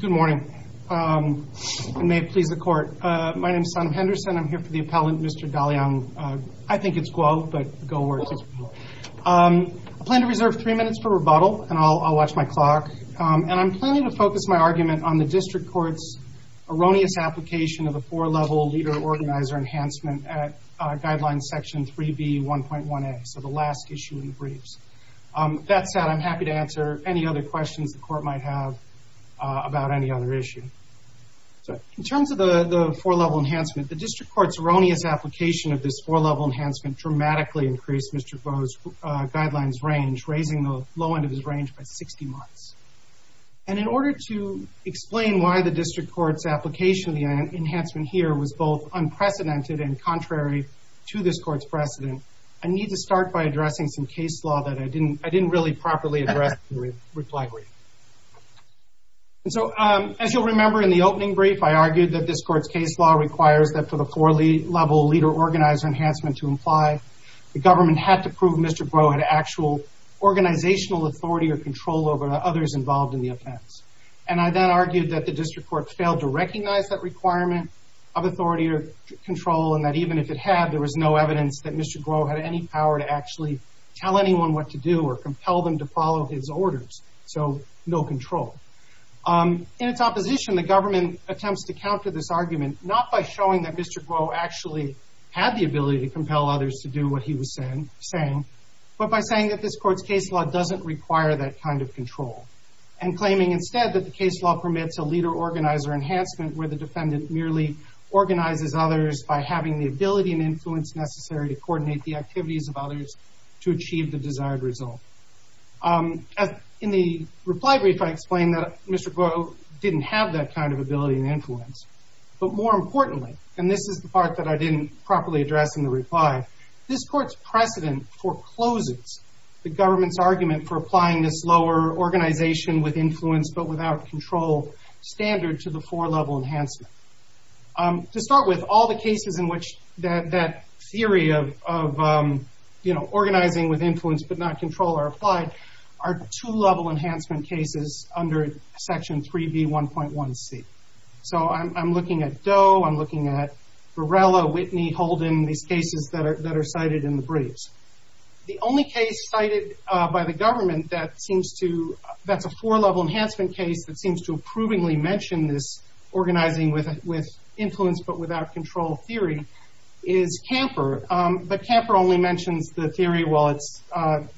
Good morning. May it please the court. My name is Sam Henderson. I'm here for the appellant Mr. Daliang. I think it's Guo, but Guo works. I plan to reserve three minutes for rebuttal and I'll watch my clock. And I'm planning to focus my argument on the district court's erroneous application of a four-level leader-organizer enhancement at guideline section 3b 1.1a, so the last issue in briefs. That said, I'm happy to answer any other questions the court might have about any other issue. In terms of the the four-level enhancement, the district court's erroneous application of this four-level enhancement dramatically increased Mr. Guo's guidelines range, raising the low end of his range by 60 months. And in order to explain why the district court's application of the enhancement here was both unprecedented and contrary to this court's precedent, I need to start by addressing some case law that I didn't really properly address in the reply brief. And so as you'll remember in the opening brief, I argued that this court's case law requires that for the four-level leader-organizer enhancement to apply, the government had to prove Mr. Guo had actual organizational authority or control over the others involved in the offense. And I then argued that the district court failed to recognize that requirement of authority or control and that even if it had, there was no evidence that Mr. Guo had any power to actually tell anyone what to do or compel them to follow his orders. So no control. In its opposition, the government attempts to counter this argument not by showing that Mr. Guo actually had the ability to compel others to do what he was saying, but by saying that this court's case law doesn't require that kind of control and claiming instead that the case law permits a leader-organizer enhancement where the defendant merely organizes others by having the ability and influence necessary to coordinate the activities of others to achieve the desired result. In the reply brief, I explained that Mr. Guo didn't have that kind of ability and influence. But more importantly, and this is the part that I didn't properly address in the reply, this court's precedent forecloses the government's argument for applying this lower organization with influence but without control standard to the four-level enhancement. To start with, all the cases in which that theory of, you know, organizing with influence but not control are applied are two-level enhancement cases under Section 3B 1.1c. So I'm looking at Doe, I'm looking at Varela, Whitney, Holden, these cases that are cited in the briefs. The only case cited by the government that seems to, that's a four-level enhancement case that seems to approvingly mention this organizing with influence but without control theory is Camper. But Camper only mentions the theory while it's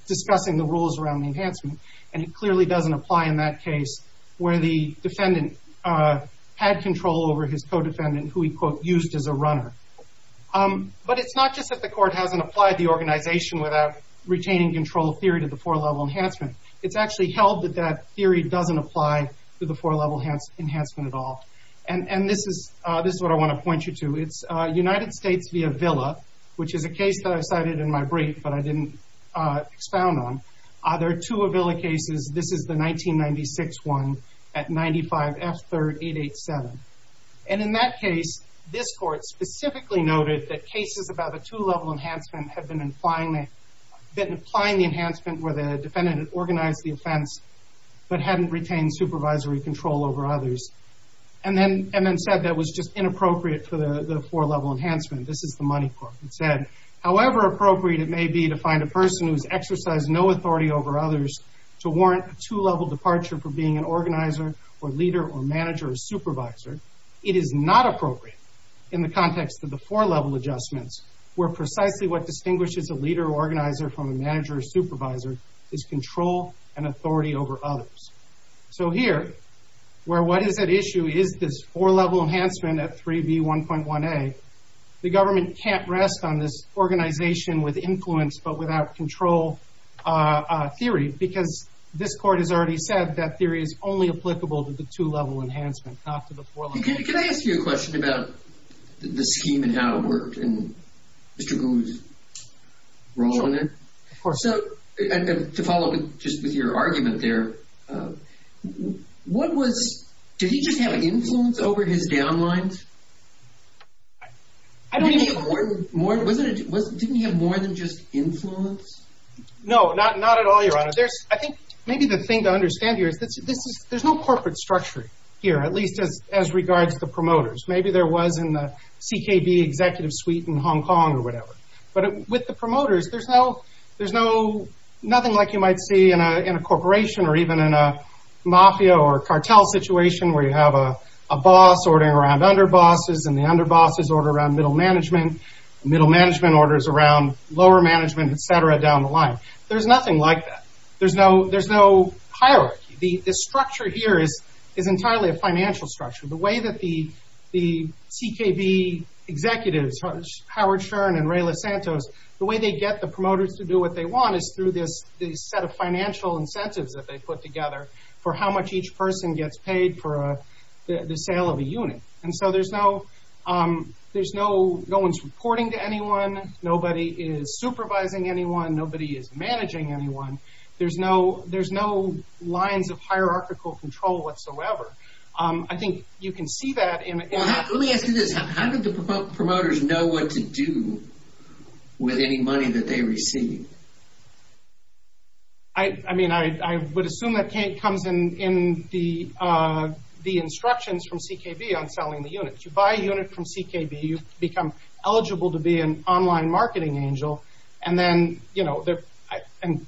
discussing the rules around the enhancement and it clearly doesn't apply in that case where the defendant had control over his co-defendant who he, quote, used as a runner. But it's not just that the court hasn't applied the organization without retaining control theory to the four-level enhancement. It's actually held that that theory doesn't apply to the four-level enhancement at all. And this is, this is what I want to point you to. It's United States via Villa, which is a case that I cited in my brief but I didn't expound on. There are two of Villa cases. This is the 1996 one at 95 F 3rd 887. And in that case, this court specifically noted that cases about a two-level enhancement have been implying, been implying the enhancement where the defendant organized the offense but hadn't retained supervisory control over others. And then, and then said that was just inappropriate for the four-level enhancement. This is the Money Court. It however appropriate it may be to find a person who's exercised no authority over others to warrant a two-level departure for being an organizer or leader or manager or supervisor, it is not appropriate in the context of the four-level adjustments where precisely what distinguishes a leader or organizer from a manager or supervisor is control and authority over others. So here, where what is at issue is this four-level enhancement at 3b 1.1a, the government can't rest on this organization with influence but without control theory because this court has already said that theory is only applicable to the two-level enhancement, not to the four-level enhancement. Can I ask you a question about the scheme and how it worked and Mr. Gould's role in it? Of course. To follow up just with your downlines? Didn't he have more than just influence? No, not at all, your honor. I think maybe the thing to understand here is that there's no corporate structure here, at least as regards the promoters. Maybe there was in the CKB executive suite in Hong Kong or whatever. But with the promoters, there's no, there's no, nothing like you might see in a corporation or even in a mafia or cartel situation where you have a boss ordering around underbosses and the underbosses order around middle management, middle management orders around lower management, etc. down the line. There's nothing like that. There's no, there's no hierarchy. The structure here is, is entirely a financial structure. The way that the, the CKB executives, Howard Stern and Ray Losantos, the way they get the promoters to do what they want is through this, this set of financial incentives that they put together for how much each person gets paid for the sale of a unit. And so there's no, there's no, no one's reporting to anyone. Nobody is supervising anyone. Nobody is managing anyone. There's no, there's no lines of hierarchical control whatsoever. I think you can see that in... Let me ask you this. How did the promoters know what to do with any money that they received? I mean, I would assume that comes in, in the, the instructions from CKB on selling the units. You buy a unit from CKB, you become eligible to be an online marketing angel, and then, you know, they're, and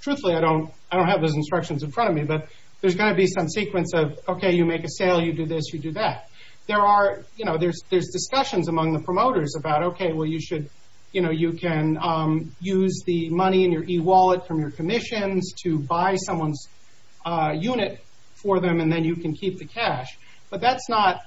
truthfully I don't, I don't have those instructions in front of me, but there's got to be some sequence of, okay, you make a sale, you do this, you do that. There are, you know, there's, there's discussions among the promoters about, okay, well you should, you know, you can use the money in someone's unit for them, and then you can keep the cash. But that's not,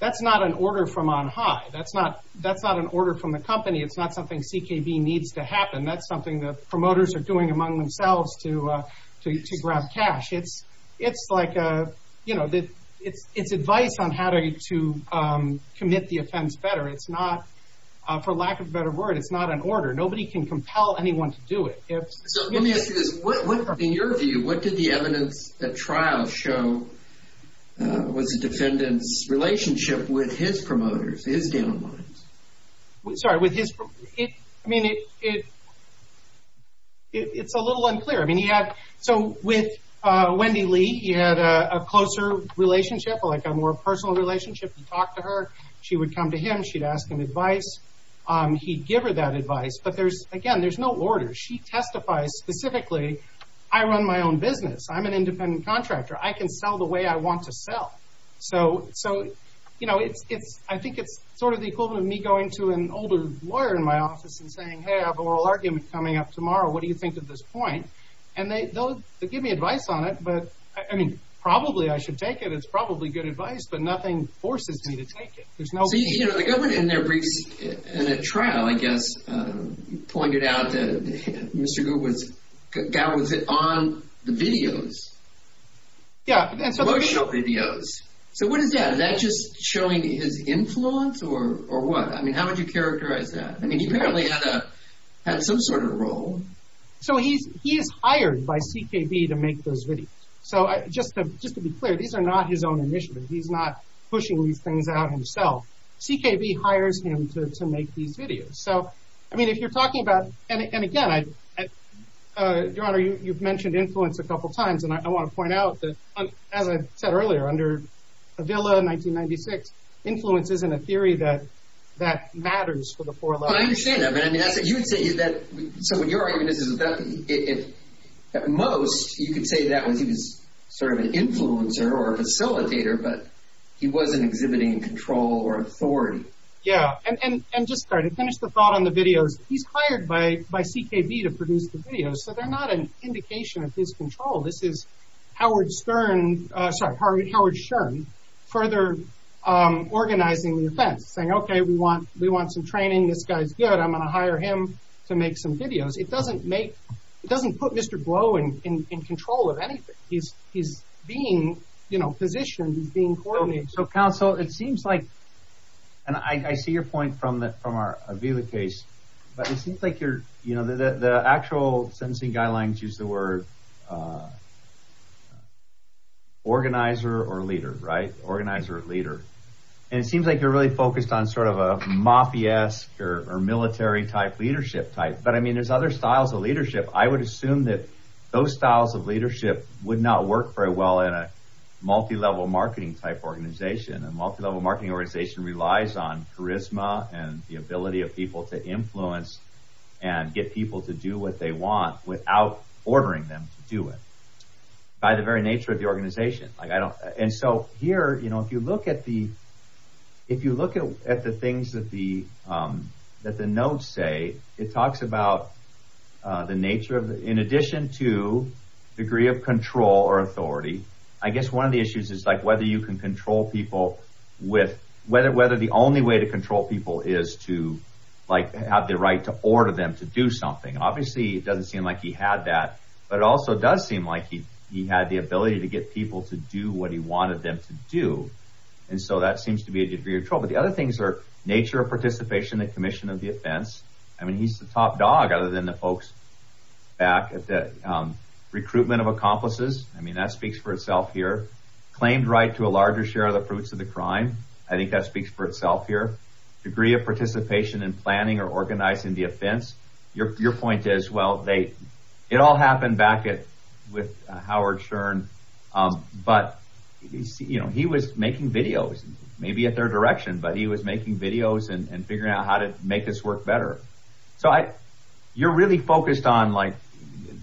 that's not an order from on high. That's not, that's not an order from the company. It's not something CKB needs to happen. That's something the promoters are doing among themselves to, to, to grab cash. It's, it's like a, you know, the, it's, it's advice on how to commit the offense better. It's not, for lack of a better word, it's not an order. Nobody can compel anyone to do it. Let me ask you this. In your view, what did the evidence at trial show was the defendant's relationship with his promoters, his downlines? Sorry, with his, I mean, it, it, it's a little unclear. I mean, he had, so with Wendy Lee, he had a closer relationship, like a more personal relationship. He'd talk to her. She would come to him. She'd ask him advice. He'd give her that advice. But there's, again, there's no order. She testifies specifically. I run my own business. I'm an independent contractor. I can sell the way I want to sell. So, so, you know, it's, it's, I think it's sort of the equivalent of me going to an older lawyer in my office and saying, hey, I have an oral argument coming up tomorrow. What do you think of this point? And they, they'll, they give me advice on it, but I mean, probably I should take it. It's probably good advice, but nothing forces me to take it. There's no. So, you know, the government in their briefs, in a trial, I guess, pointed out that Mr. Gould was, Gow was on the videos. Yeah, and so. The brochure videos. So what is that? Is that just showing his influence or, or what? I mean, how would you characterize that? I mean, he apparently had a, had some sort of role. So he's, he is hired by CKB to make those videos. So just to, just to be clear, these are not his own initiatives. He's not pushing these things out himself. CKB hires him to, to make these videos. So, I mean, if you're talking about, and again, I, Your Honor, you've mentioned influence a couple of times, and I want to point out that, as I said earlier, under Avila, 1996, influence isn't a theory that, that matters for the four lawyers. But I understand that, but I mean, you would say that, so what your argument is, is that it, at most, you could say that was, he was sort of an influencer or a facilitator, but he wasn't exhibiting control or authority. Yeah. And, and, and just start, finish the thought on the videos. He's hired by, by CKB to produce the videos. So they're not an indication of his control. This is Howard Stern, sorry, Howard, Howard Stern, further organizing the events, saying, okay, we want, we want some training. This guy's good. I'm going to hire him to make, it doesn't put Mr. Blow in, in, in control of anything. He's, he's being, you know, positioned as being coordinated. So counsel, it seems like, and I see your point from the, from our Avila case, but it seems like you're, you know, the, the, the actual sentencing guidelines use the word organizer or leader, right? Organizer or leader. And it seems like you're really focused on sort of a mafiasque or military type leadership type. But I mean, there's other styles of leadership. I would assume that those styles of leadership would not work very well in a multi-level marketing type organization and multi-level marketing organization relies on charisma and the ability of people to influence and get people to do what they want without ordering them to do it by the very nature of the organization. Like I don't, and so here, you know, if you look at the, if you the nature of, in addition to degree of control or authority, I guess one of the issues is like whether you can control people with whether, whether the only way to control people is to like have the right to order them to do something. Obviously it doesn't seem like he had that, but it also does seem like he, he had the ability to get people to do what he wanted them to do. And so that seems to be a degree of trouble. The other things are nature of participation, that commission of the offense. I mean, he's the top dog other than the folks back at the recruitment of accomplices. I mean, that speaks for itself here. Claimed right to a larger share of the fruits of the crime. I think that speaks for itself here. Degree of participation in planning or organizing the offense. Your, your point is, well, they, it all happened back at, with Howard Shurn. But he's, you know, he was making videos, maybe a third direction, but he was making videos and figuring out how to make this work better. So I, you're really focused on like,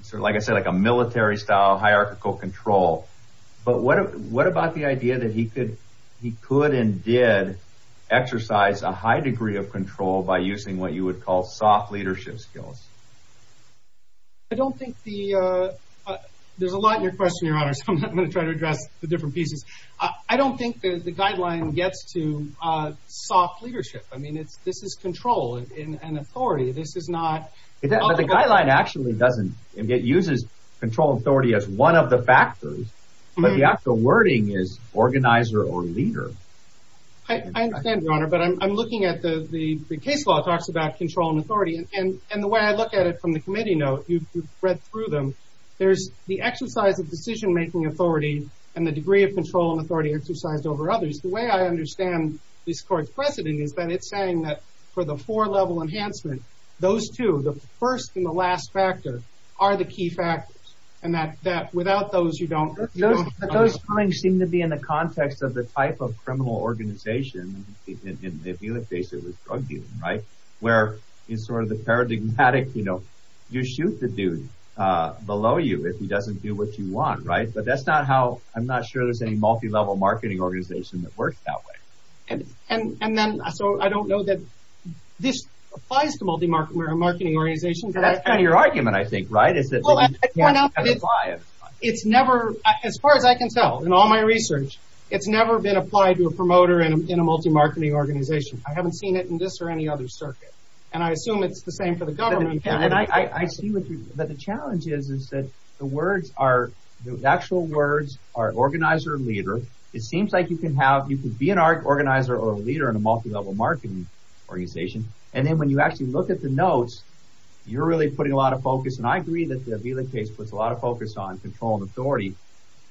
sort of, like I said, like a military style hierarchical control. But what, what about the idea that he could, he could and did exercise a high degree of control by using what you would call soft leadership skills? I don't think the there's a lot in your question, your honor. So I'm going to try to address the different pieces. I don't think that the authority, this is not. The guideline actually doesn't, it uses control authority as one of the factors, but the actual wording is organizer or leader. I understand your honor, but I'm looking at the, the case law talks about control and authority and, and the way I look at it from the committee note, you've read through them. There's the exercise of decision-making authority and the degree of control and authority exercised over others. The way I understand this court's then it's saying that for the four level enhancement, those two, the first and the last factor are the key factors. And that, that without those, you don't, those feelings seem to be in the context of the type of criminal organization. If you look basically drug dealing, right. Where is sort of the paradigmatic, you know, you shoot the dude below you if he doesn't do what you want. Right. But that's not how, I'm not sure there's any multi-level marketing organization that then, so I don't know that this applies to multi-market or marketing organizations. And that's kind of your argument, I think, right? Is that it's never, as far as I can tell in all my research, it's never been applied to a promoter in a multi-marketing organization. I haven't seen it in this or any other circuit. And I assume it's the same for the government. And I see what you, but the challenge is, is that the words are the actual words are organizer or leader. It seems like you can have, you can be an organizer or leader in a multi-level marketing organization. And then when you actually look at the notes, you're really putting a lot of focus. And I agree that the Abila case puts a lot of focus on control and authority.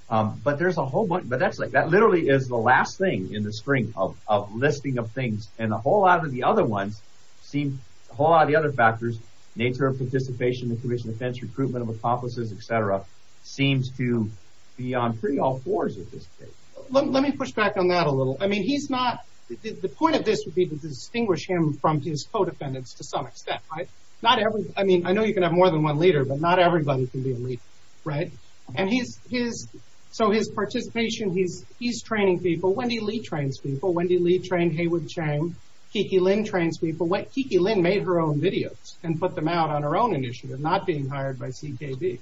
But there's a whole bunch, but that's like, that literally is the last thing in the string of listing of things. And a whole lot of the other ones seem, a whole lot of the other factors, nature of participation, the commission defense, recruitment of accomplices, etc. seems to be on pretty all fours at this case. Let me push back on that a little. I mean, he's not, the point of this would be to distinguish him from his co-defendants to some extent, right? Not every, I mean, I know you can have more than one leader, but not everybody can be a leader, right? And he's, his, so his participation, he's, he's training people. Wendy Lee trains people. Wendy Lee trained Heywood Chang. Kiki Lin trains people. Kiki Lin made her own videos and put them out on her own initiative, not being hired by CKB.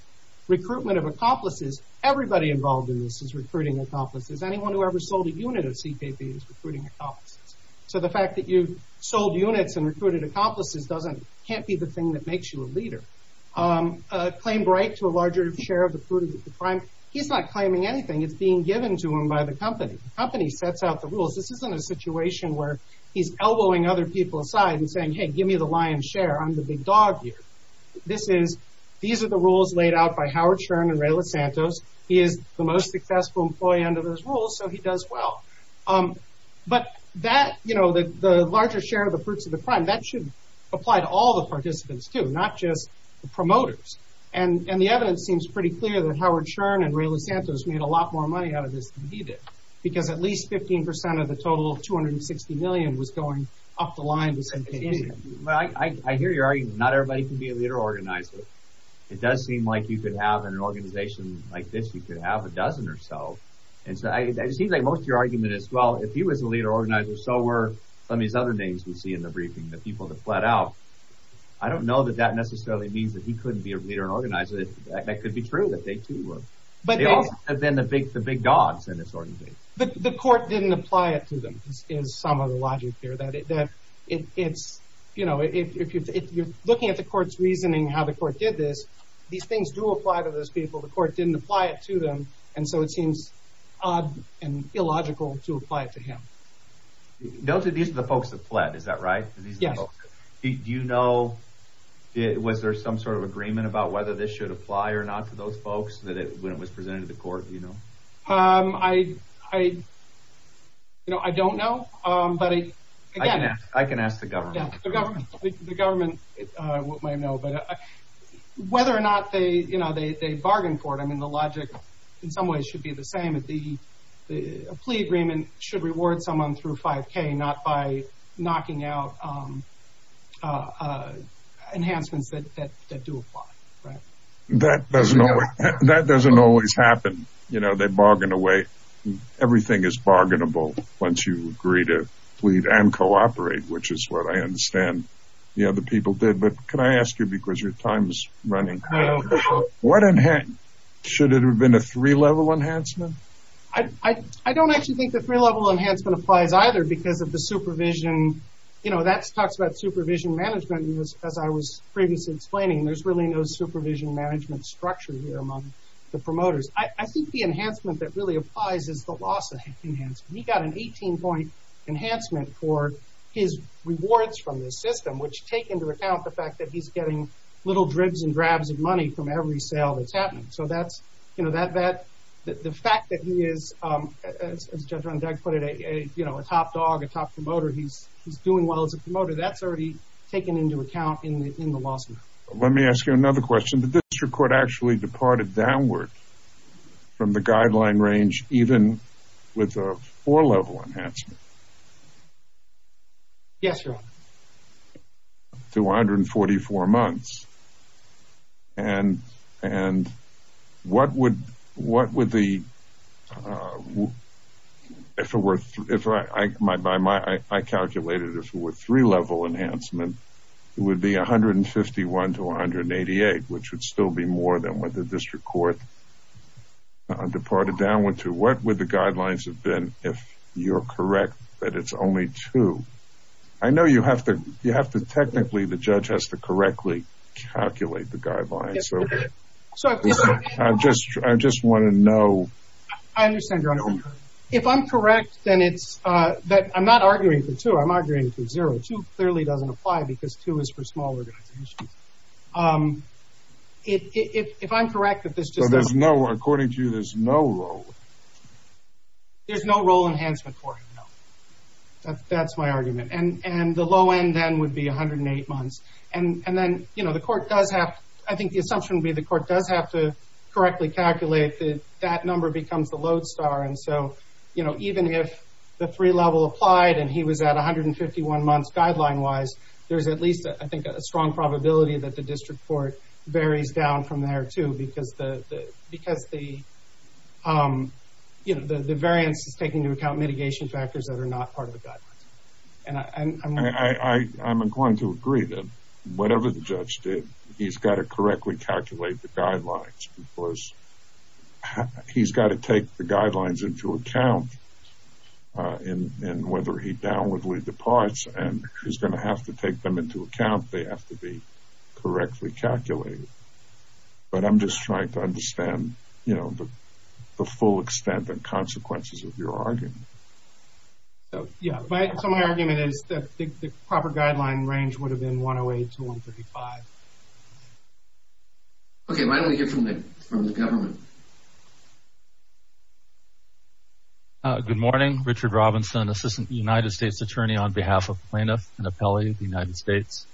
Recruitment of accomplices, everybody involved in this is recruiting accomplices. Anyone who ever sold a unit of CKB is recruiting accomplices. So the fact that you sold units and recruited accomplices doesn't, can't be the thing that makes you a leader. Claim right to a larger share of the fruit of the crime. He's not claiming anything. It's being given to him by the company. The company sets out the rules. This isn't a situation where he's elbowing other people aside and saying, hey, give me the lion's share. I'm the big dog here. This is, these are the rules laid out by the most successful employee under those rules, so he does well. But that, you know, the, the larger share of the fruits of the crime, that should apply to all the participants too, not just the promoters. And, and the evidence seems pretty clear that Howard Shurn and Ray Losantos made a lot more money out of this than he did. Because at least 15% of the total 260 million was going up the line with CKB. I, I, I hear your argument. Not everybody can be a leader organizer. It does seem like you could have, in an organization like this, you could have a dozen or so. And so I, it seems like most of your argument is, well, if he was a leader organizer, so were some of these other names we see in the briefing, the people that fled out. I don't know that that necessarily means that he couldn't be a leader and organizer. That could be true, that they too were. But then the big, the big dogs in this organization. But the court didn't apply it to them, is some of the logic here. That it's, you know, if you're looking at the court's reasoning, how the court did this, these didn't apply it to them. And so it seems odd and illogical to apply it to him. Those are, these are the folks that fled. Is that right? Yes. Do you know, was there some sort of agreement about whether this should apply or not to those folks that it, when it was presented to the court, you know? Um, I, I, you know, I don't know. Um, but I, I can ask the government, the government, uh, what or not they, you know, they, they bargained for it. I mean, the logic in some ways should be the same as the, the plea agreement should reward someone through 5k, not by knocking out, um, uh, uh, enhancements that, that, that do apply. Right. That doesn't, that doesn't always happen. You know, they bargain away. Everything is bargainable once you agree to plead and cooperate, which is what I understand. You know, the people did, but can I ask you, because your time's running, what enhance, should it have been a three-level enhancement? I, I, I don't actually think the three-level enhancement applies either because of the supervision. You know, that's talks about supervision management, as I was previously explaining. There's really no supervision management structure here among the promoters. I think the enhancement that really applies is the loss of enhancement. He got an 18 point enhancement for his rewards from this system, which take into account the fact that he's getting little dribs and drabs of money from every sale that's happening. So that's, you know, that, that, the fact that he is, um, as Judge Rundegg put it, a, a, you know, a top dog, a top promoter, he's, he's doing well as a promoter. That's already taken into account in the, in the lawsuit. Let me ask you another question. Did the district court actually departed downward from the guideline range, even with a four-level enhancement? Yes, Your Honor. To 144 months. And, and what would, what would the, uh, if it were, if I, I, my, by my, I calculated if it were three-level enhancement, it would be 151 to 188, which would still be more than what the district court departed downward to. What would the guidelines have been if you're correct that it's only two? I know you have to, you have to technically, the judge has to correctly calculate the guidelines. So, I just, I just want to know. I understand, Your Honor. If I'm correct, then it's, uh, that I'm not arguing for two. I'm arguing for zero. Two clearly doesn't apply because two is for small organizations. Um, if, if, if I'm correct, that this just doesn't. So there's no, according to you, there's no role. There's no role enhancement for him, no. That's my argument. And, and the low end then would be 108 months. And, and then, you know, the court does have, I think the assumption would be the court does have to correctly calculate that that number becomes the lodestar. And so, you know, even if the three-level applied and he was at 151 months guideline wise, there's at least, I think, a strong probability that the district court varies down from there too, because the, because the, um, you know, the, the variance is taking into account mitigation factors that are not part of the guidelines. And I'm, I'm, I, I, I'm inclined to agree that whatever the judge did, he's got to correctly calculate the guidelines because he's got to take the guidelines into account, uh, in, in whether he downwardly departs and he's going to have to take them into account. They have to be correctly calculated. But I'm just trying to understand, you know, the, the full extent and consequences of your argument. Yeah. So my argument is that the proper guideline range would have been 108 to 135. Okay. Why don't we hear from the, from the government? Good morning. Richard Robinson, assistant United States attorney on behalf of plaintiff and appellee of the United States.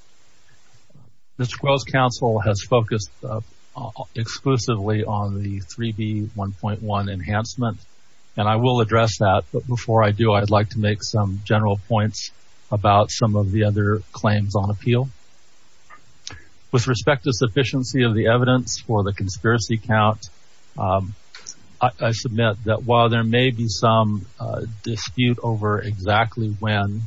Mr. Quill's counsel has focused exclusively on the 3B1.1 enhancement, and I will address that. But before I do, I'd like to make some general points about some of the other claims on appeal. With respect to sufficiency of the evidence for the conspiracy count, um, I submit that while there may be some dispute over exactly when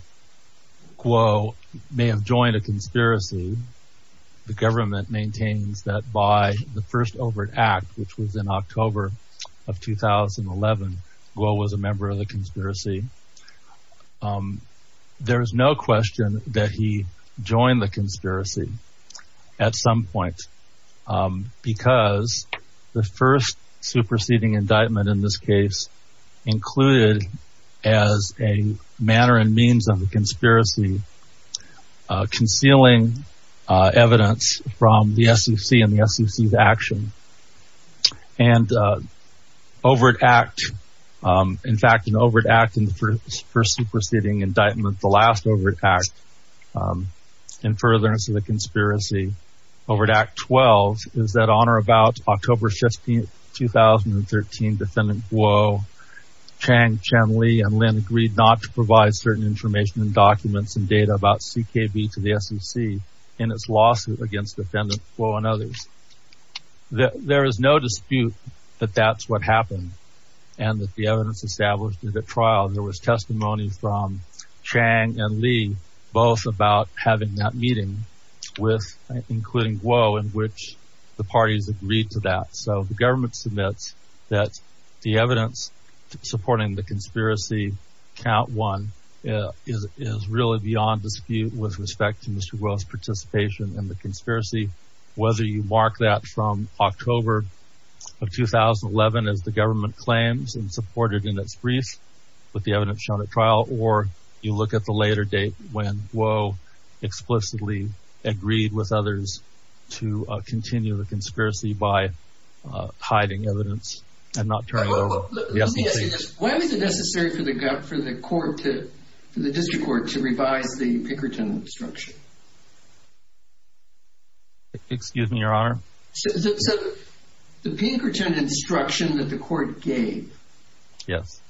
Quill may have joined a conspiracy, the government maintains that by the first overt act, which was in October of 2011, Quill was a member of the conspiracy. Um, there was no question that he joined the conspiracy at some point, um, because the first superseding indictment in this case included as a manner and means of conspiracy, uh, concealing, uh, evidence from the SEC and the SEC's action. And, uh, overt act, um, in fact, an overt act in the first superseding indictment, the last overt act, um, in furtherance of the conspiracy, overt act 12 is that on or about October 15th, 2013, defendant Quill, Chang, Chen, and Lin agreed not to provide certain information and documents and data about CKB to the SEC in its lawsuit against defendant Quill and others. There is no dispute that that's what happened and that the evidence established in the trial, there was testimony from Chang and Lee, both about having that meeting with, including Quill in which the parties agreed to that. So the government submits that the evidence supporting the conspiracy count one, uh, is, is really beyond dispute with respect to Mr. Quill's participation in the conspiracy. Whether you mark that from October of 2011 as the government claims and supported in its brief with the evidence shown at trial, or you look at the later date when Quill explicitly agreed with others to continue the conspiracy by, uh, hiding evidence and not turn it over. Why was it necessary for the gut, for the court to, for the district court to revise the Pinkerton instruction? Excuse me, your honor. So the Pinkerton instruction that the court gave. Yes.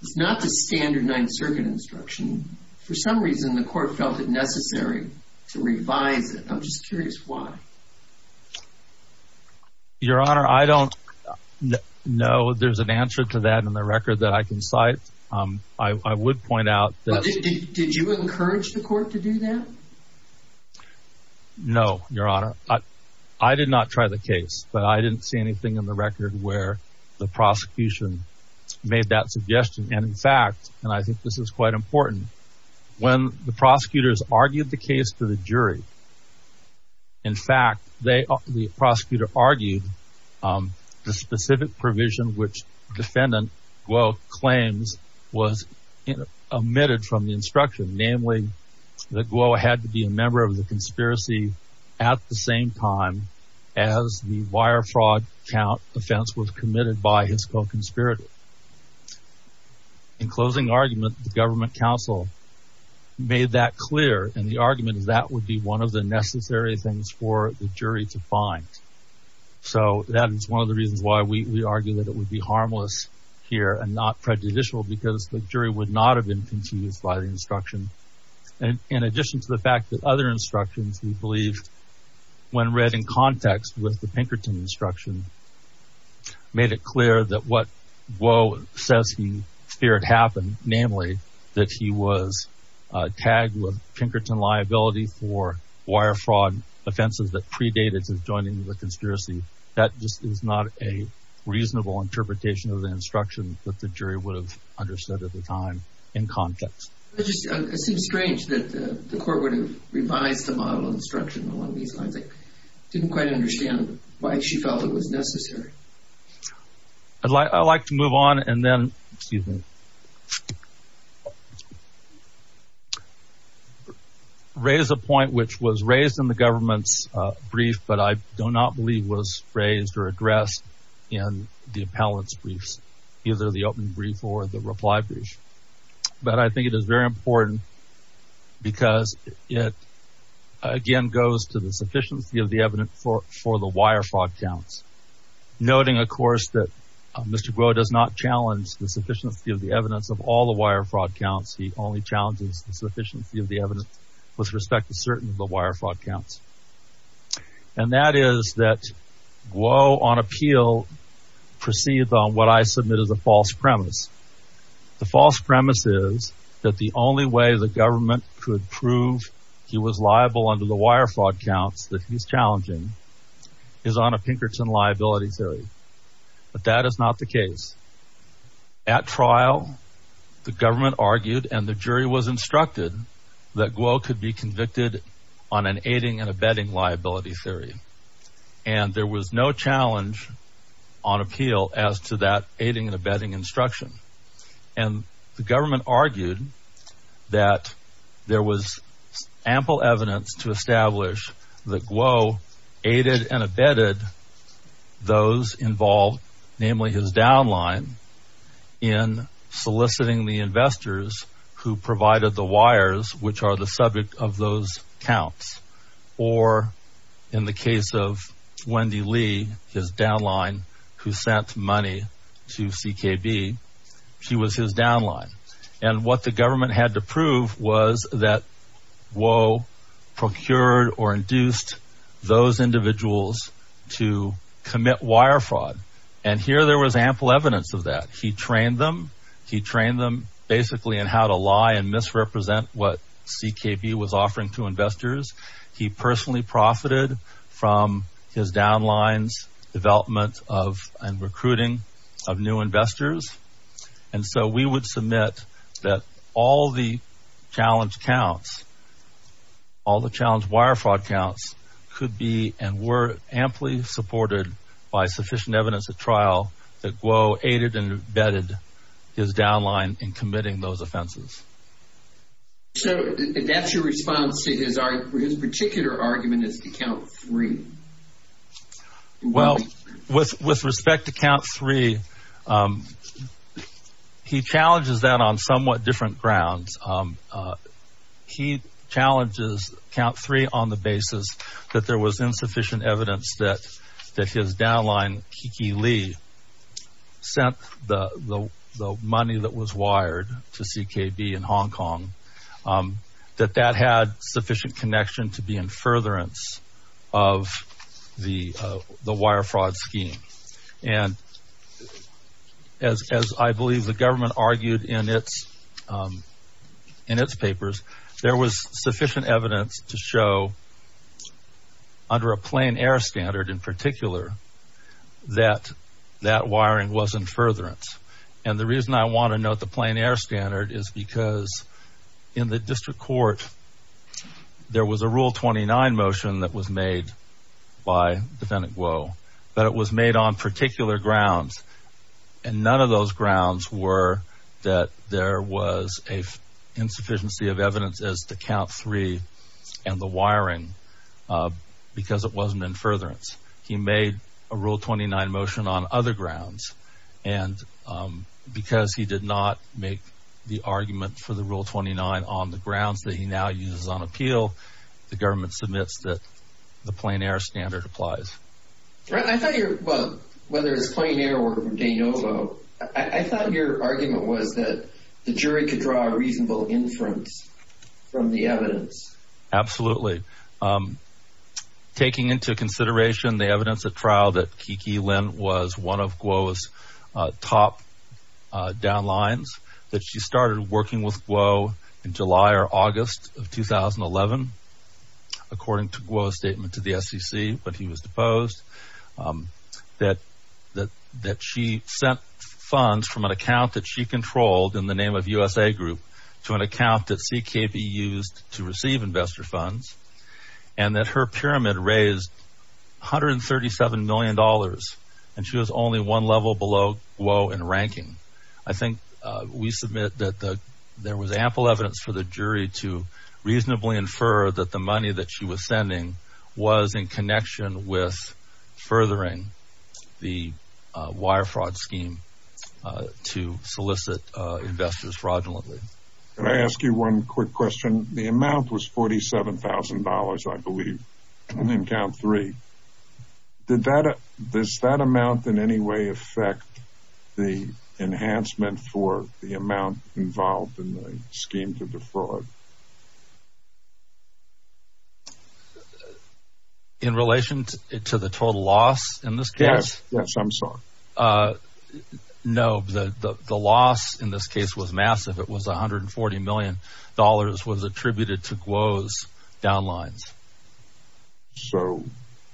It's not the standard ninth circuit instruction. For some reason, the court felt it necessary to revise it. I'm just curious why. Your honor, I don't know, there's an answer to that in the record that I can cite. Um, I, I would point out that... Did you encourage the court to do that? No, your honor. I did not try the case, but I didn't see anything in the record where the prosecution made that suggestion. And in fact, and I think this is quite important, when the prosecutors argued the case to the jury, in fact, they, the prosecutor argued, um, the specific provision, which defendant Guo claims was omitted from the instruction, namely that Guo had to be a member of the conspiracy at the same time as the wire fraud count offense was committed by his co-conspirator. In closing argument, the government counsel made that clear. And the argument is that would be one of the necessary things for the jury to find. So that is one of the reasons why we argue that it would be harmless here and not prejudicial because the jury would not have been confused by the instruction. And in addition to the fact that other instructions, we believe when read in Guo says he feared it happened, namely that he was tagged with Pinkerton liability for wire fraud offenses that predated his joining the conspiracy. That just is not a reasonable interpretation of the instruction that the jury would have understood at the time in context. It just seems strange that the court would have revised the model of instruction along these lines. I didn't quite understand why she felt it was necessary. I'd like to move on and then, excuse me, raise a point which was raised in the government's brief, but I do not believe was raised or addressed in the appellant's briefs, either the open brief or the reply brief. But I think it is very important because it, again, goes to the sufficiency of the evidence for the wire fraud counts. Noting, of course, that Mr. Guo does not challenge the sufficiency of the evidence of all the wire fraud counts, he only challenges the sufficiency of the evidence with respect to certain of the wire fraud counts. And that is that Guo on appeal proceeds on what I submit as a false premise. The false premise is that the only way the government could prove he was liable under the wire fraud counts that he's challenging is on a Pinkerton liability theory, but that is not the case. At trial, the government argued and the jury was instructed that Guo could be convicted on an aiding and abetting liability theory, and there was no challenge on appeal as to that aiding and abetting instruction. And the government argued that there was ample evidence to establish that Guo aided and abetted those involved, namely his downline, in soliciting the investors who provided the wires, which are the subject of those counts. Or in the case of Wendy Li, his downline, who sent money to CKB, she was his downline, and what the government had to prove was that Guo procured or induced those individuals to commit wire fraud. And here there was ample evidence of that. He trained them. He trained them basically in how to lie and misrepresent what CKB was offering to investors. He personally profited from his downlines, development of, and recruiting of new investors. And so we would submit that all the challenge counts, all the challenge wire fraud counts could be, and were, amply supported by sufficient evidence at trial that Guo aided and abetted his downline in committing those offenses. So that's your response to his particular argument is to count three. Well, with respect to count three, he challenges that on somewhat different grounds. He challenges count three on the basis that there was insufficient evidence that his downline, Kiki Li, sent the money that was wired to CKB in Hong Kong, that that had sufficient connection to be in furtherance of the wire fraud scheme. And as I believe the government argued in its papers, there was sufficient evidence to show under a plain air standard in particular, that that wiring was in furtherance. And the reason I want to note the plain air standard is because in the district court, there was a rule 29 motion that was made by defendant Guo, but it was made on particular grounds. And none of those grounds were that there was a insufficiency of evidence as to count three and the wiring, because it wasn't in furtherance. He made a rule 29 motion on other grounds. And because he did not make the argument for the rule 29 on the grounds that he now uses on appeal, the government submits that the plain air standard applies. Right. I thought your, well, whether it's plain air or de novo, I thought your argument was that the jury could draw a reasonable inference from the evidence. Absolutely. Taking into consideration the evidence at trial that Kiki Lin was one of Guo's top downlines, that she started working with Guo in July or August of 2011, according to Guo's statement to the SEC, but he was deposed, that she sent funds from an account controlled in the name of USA Group to an account that CKB used to receive investor funds, and that her pyramid raised $137 million and she was only one level below Guo in ranking. I think we submit that there was ample evidence for the jury to reasonably infer that the money that she was sending was in connection with furthering the wire fraud scheme to solicit investors fraudulently. Can I ask you one quick question? The amount was $47,000, I believe, in account three. Did that, does that amount in any way affect the enhancement for the amount involved in the scheme to defraud? In relation to the total loss in this case? Yes, I'm sorry. No, the loss in this case was massive. It was $140 million was attributed to Guo's downlines. So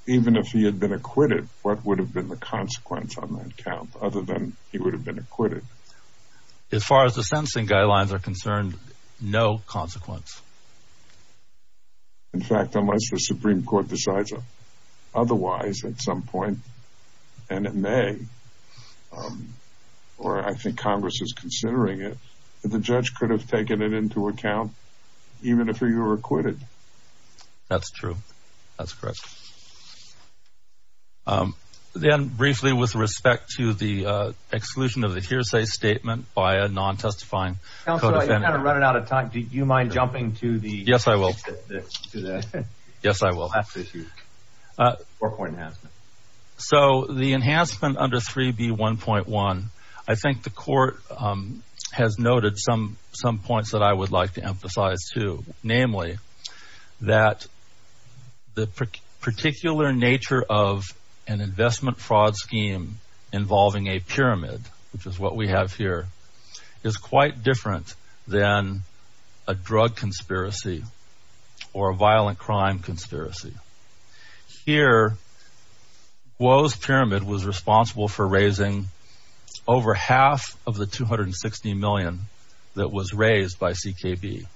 even if he had been acquitted, what would have been the consequence on that account other than he would have been acquitted? As far as the sentencing guidelines are concerned, no consequence. In fact, unless the Supreme Court decides otherwise at some point, and it may, or I think Congress is considering it, that the judge could have taken it into account even if he were acquitted. That's true. That's correct. Then briefly with respect to the exclusion of the hearsay statement by a non-testifying co-defendant. Counselor, you're kind of running out of time. Do you mind jumping to the... Yes, I will. Yes, I will. ...forepoint enhancement. So the enhancement under 3B1.1, I think the court has noted some points that I would like to emphasize too, namely that the particular nature of an investment fraud scheme involving a pyramid, which is what we have here, is quite different than a drug conspiracy or a violent crime conspiracy. Here, Woe's Pyramid was responsible for raising over half of the $260 million that was raised by CKB.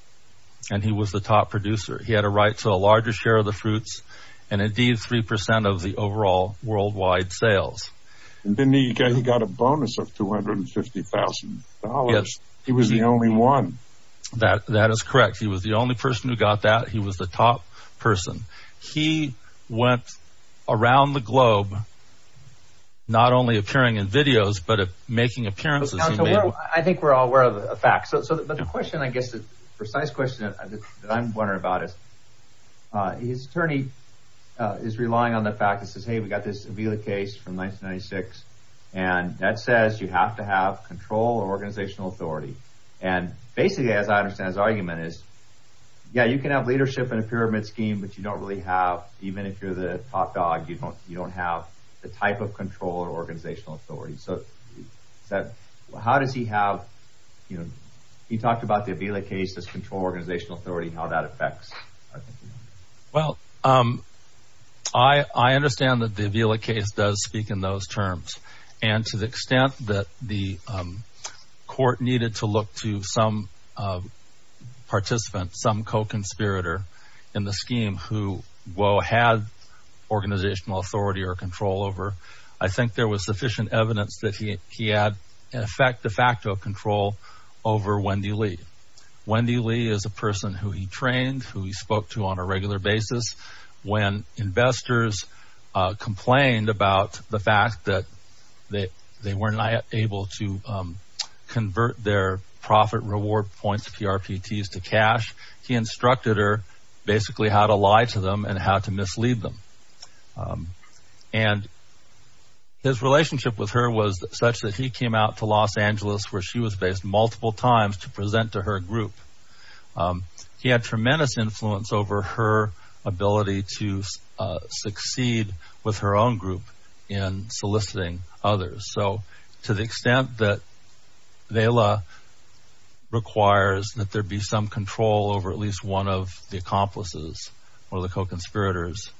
And he was the top producer. He had a right to a larger share of the fruits and indeed 3% of the overall worldwide sales. And then he got a bonus of $250,000. He was the only one. That is correct. He was the only person who got that. He was the top person. He went around the globe, not only appearing in videos, but making appearances. I think we're all aware of the facts. So the question, I guess, the precise question that I'm wondering about is, his attorney is relying on the fact that says, hey, we've got this Avila case from 1996, and that says you have to have control or organizational authority. And basically, as I understand, his argument is, yeah, you can have leadership in a pyramid scheme, but you don't really have, even if you're the top dog, you don't, you don't have the type of control or organizational authority. So how does he have, you know, he talked about the Avila case, this control organizational authority, how that affects. Well, I understand that the Avila case does speak in those terms. And to the extent that the court needed to look to some participant, some co-conspirator in the scheme who, well, had organizational authority or control over, I think there was sufficient evidence that he had in effect, de facto control over Wendy Lee. Wendy Lee is a person who he trained, who he spoke to on a regular basis. When investors complained about the fact that they weren't able to convert their profit reward points, PRPTs to cash, he instructed her basically how to lie to them and how to mislead them. And his relationship with her was such that he came out to Los Angeles where she was based multiple times to present to her group. He had tremendous influence over her ability to succeed with her own group in soliciting others. So to the extent that Avila requires that there be some control over at least one of the accomplices or the co-conspirators,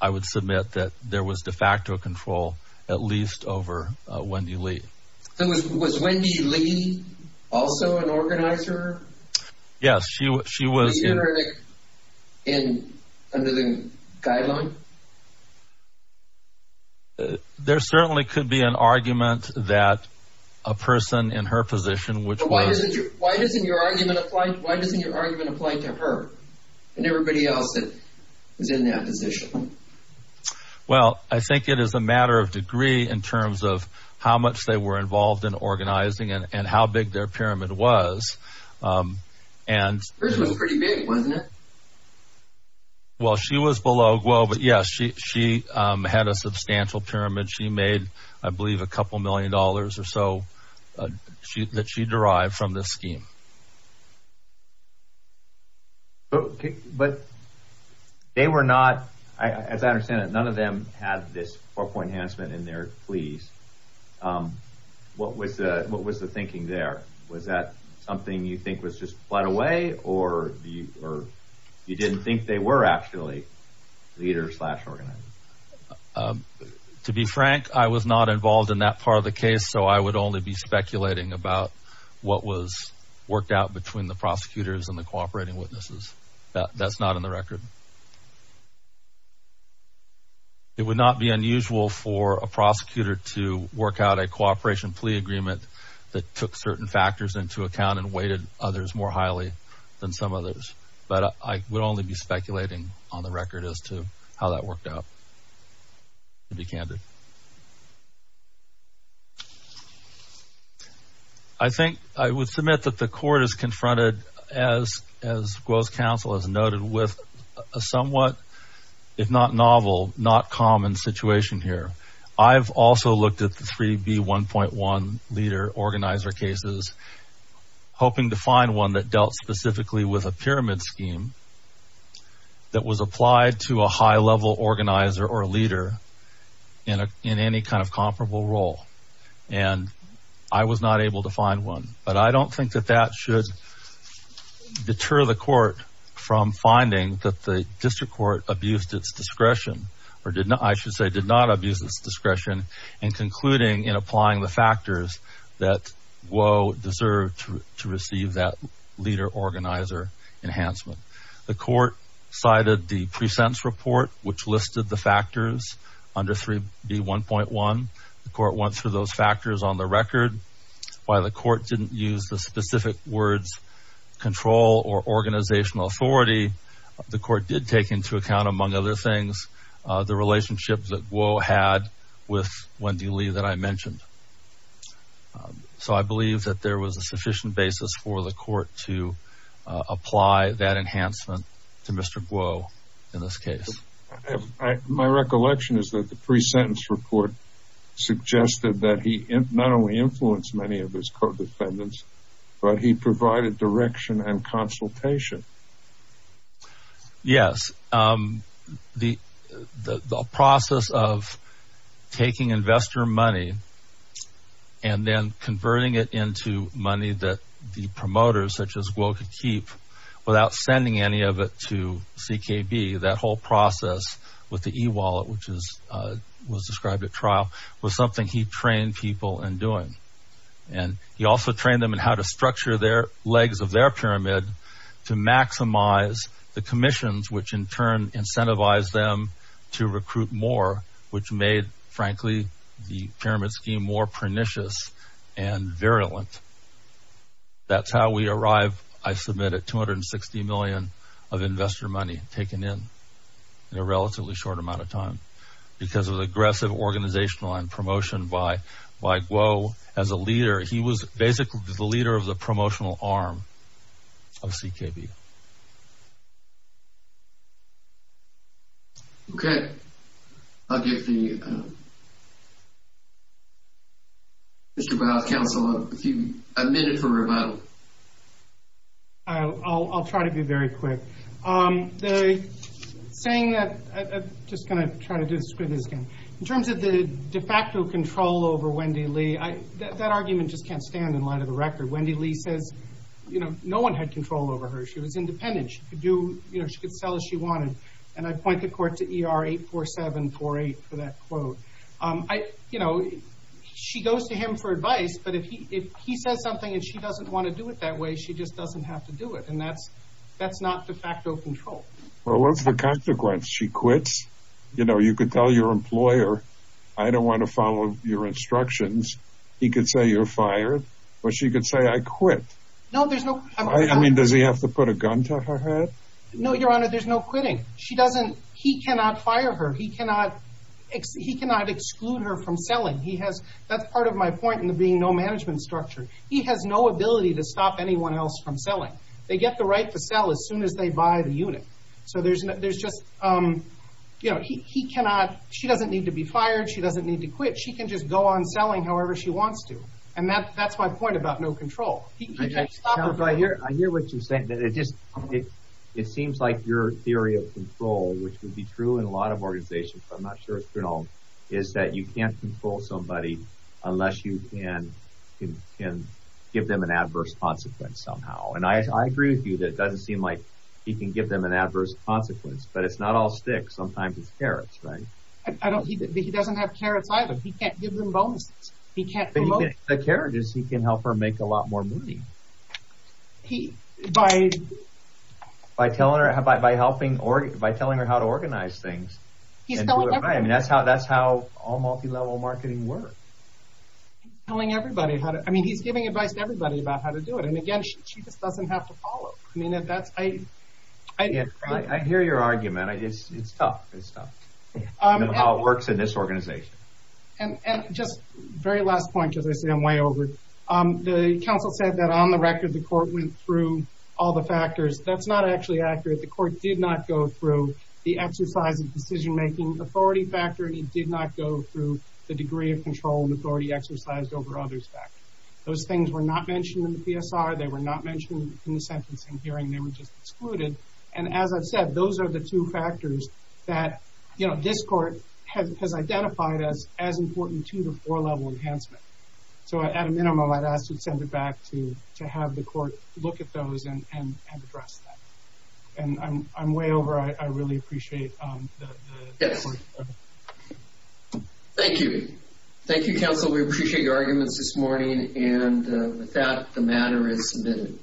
I would submit that there was de facto control, at least over Wendy Lee. Was Wendy Lee also an organizer? Yes, she was. Was she under the guideline? There certainly could be an argument that a person in her position, which was. Why doesn't your argument apply to her and everybody else that is in that position? Well, I think it is a matter of degree in terms of how much they were involved in organizing and how big their pyramid was. And. Hers was pretty big, wasn't it? Well, she was below, but yes, she had a substantial pyramid. She made, I believe, a couple million dollars or so that she derived from the scheme. But they were not, as I understand it, none of them had this four point enhancement in their pleas. What was the what was the thinking there? Was that something you think was just put away or you or you didn't think they were actually leaders organized? To be frank, I was not involved in that part of the case, so I would only be speculating about what was worked out between the prosecutors and the cooperating witnesses. That's not in the record. It would not be unusual for a prosecutor to work out a cooperation plea agreement that took certain factors into account and weighted others more highly than some others. But I would only be speculating on the record as to how that worked out. To be candid. I think I would submit that the court is confronted as, as Guo's counsel has noted, with a somewhat, if not novel, not common situation here. I've also looked at the three B1.1 leader organizer cases, hoping to find one that dealt specifically with a pyramid scheme that was applied to a high level organizer or a leader in a, in any kind of comparable role. And I was not able to find one, but I don't think that that should deter the court from finding that the district court abused its discretion or did not, I don't think, abuse its discretion in concluding, in applying the factors that Guo deserved to receive that leader organizer enhancement. The court cited the pre-sentence report, which listed the factors under three B1.1. The court went through those factors on the record. While the court didn't use the specific words control or organizational authority, the court did take into account, among other things, the relationship that Guo had with Wendy Lee that I mentioned. So I believe that there was a sufficient basis for the court to apply that enhancement to Mr. Guo in this case. My recollection is that the pre-sentence report suggested that he not only influenced many of his co-defendants, but he provided direction and consultation. Yes. The process of taking investor money and then converting it into money that the promoters such as Guo could keep without sending any of it to CKB, that whole process with the e-wallet, which was described at trial, was something he trained people in doing. And he also trained them in how to structure their legs of their pyramid to maximize the commissions, which in turn incentivized them to recruit more, which made, frankly, the pyramid scheme more pernicious and virulent. That's how we arrived, I submit, at $260 million of investor money taken in, in a relatively short amount of time because of the aggressive organizational and promotion by Guo as a leader. He was basically the leader of the promotional arm of CKB. Okay, I'll give the Mr. Barr's counsel a minute for rebuttal. I'll try to be very quick. The saying that, I'm just going to try to describe this again, in terms of the de facto control over Wendy Lee, that argument just can't stand in light of the record. Wendy Lee says, you know, no one had control over her. She was independent. She could do, you know, she could sell as she wanted. And I point the court to ER 84748 for that quote. I, you know, she goes to him for advice. But if he says something and she doesn't want to do it that way, she just doesn't have to do it. And that's that's not de facto control. Well, what's the consequence? She quits? You know, you could tell your employer, I don't want to follow your instructions. He could say you're fired or she could say, I quit. No, there's no. I mean, does he have to put a gun to her head? No, Your Honor, there's no quitting. She doesn't. He cannot fire her. He cannot he cannot exclude her from selling. He has. That's part of my point in the being no management structure. He has no ability to stop anyone else from selling. They get the right to sell as soon as they buy the unit. So there's there's just, you know, he cannot she doesn't need to be fired. She doesn't need to quit. She can just go on selling however she wants to. And that that's my point about no control. He can't stop her. But I hear I hear what you're saying that it just it it seems like your theory of control, which would be true in a lot of organizations, I'm not sure if you know, is that you can't control somebody unless you can can give them an adverse consequence somehow. And I agree with you. That doesn't seem like he can give them an adverse consequence. But it's not all sticks. Sometimes it's carrots. Right. I don't think he doesn't have carrots either. He can't give them bonuses. He can't the carriages. He can help her make a lot more money. He by by telling her about by helping or by telling her how to organize things. He's telling her. I mean, that's how that's how all multilevel marketing work. Telling everybody how to I mean, he's giving advice to everybody about how to do it. And again, she just doesn't have to follow. I mean, that's I I hear your argument. I just it's tough. It's tough. How it works in this organization. And just very last point, as I say, I'm way over. The counsel said that on the record, the court went through all the factors. That's not actually accurate. The court did not go through the exercise of decision making authority factor. And he did not go through the degree of control and authority exercised over others. Those things were not mentioned in the PSR. They were not mentioned in the sentencing hearing. They were just excluded. And as I've said, those are the two factors that this court has identified as as important to the four level enhancement. So at a minimum, I'd ask to send it back to to have the court look at those and and address that. And I'm way over. I really appreciate. Thank you. Thank you, counsel. We appreciate your arguments this morning. And with that, the matter is submitted.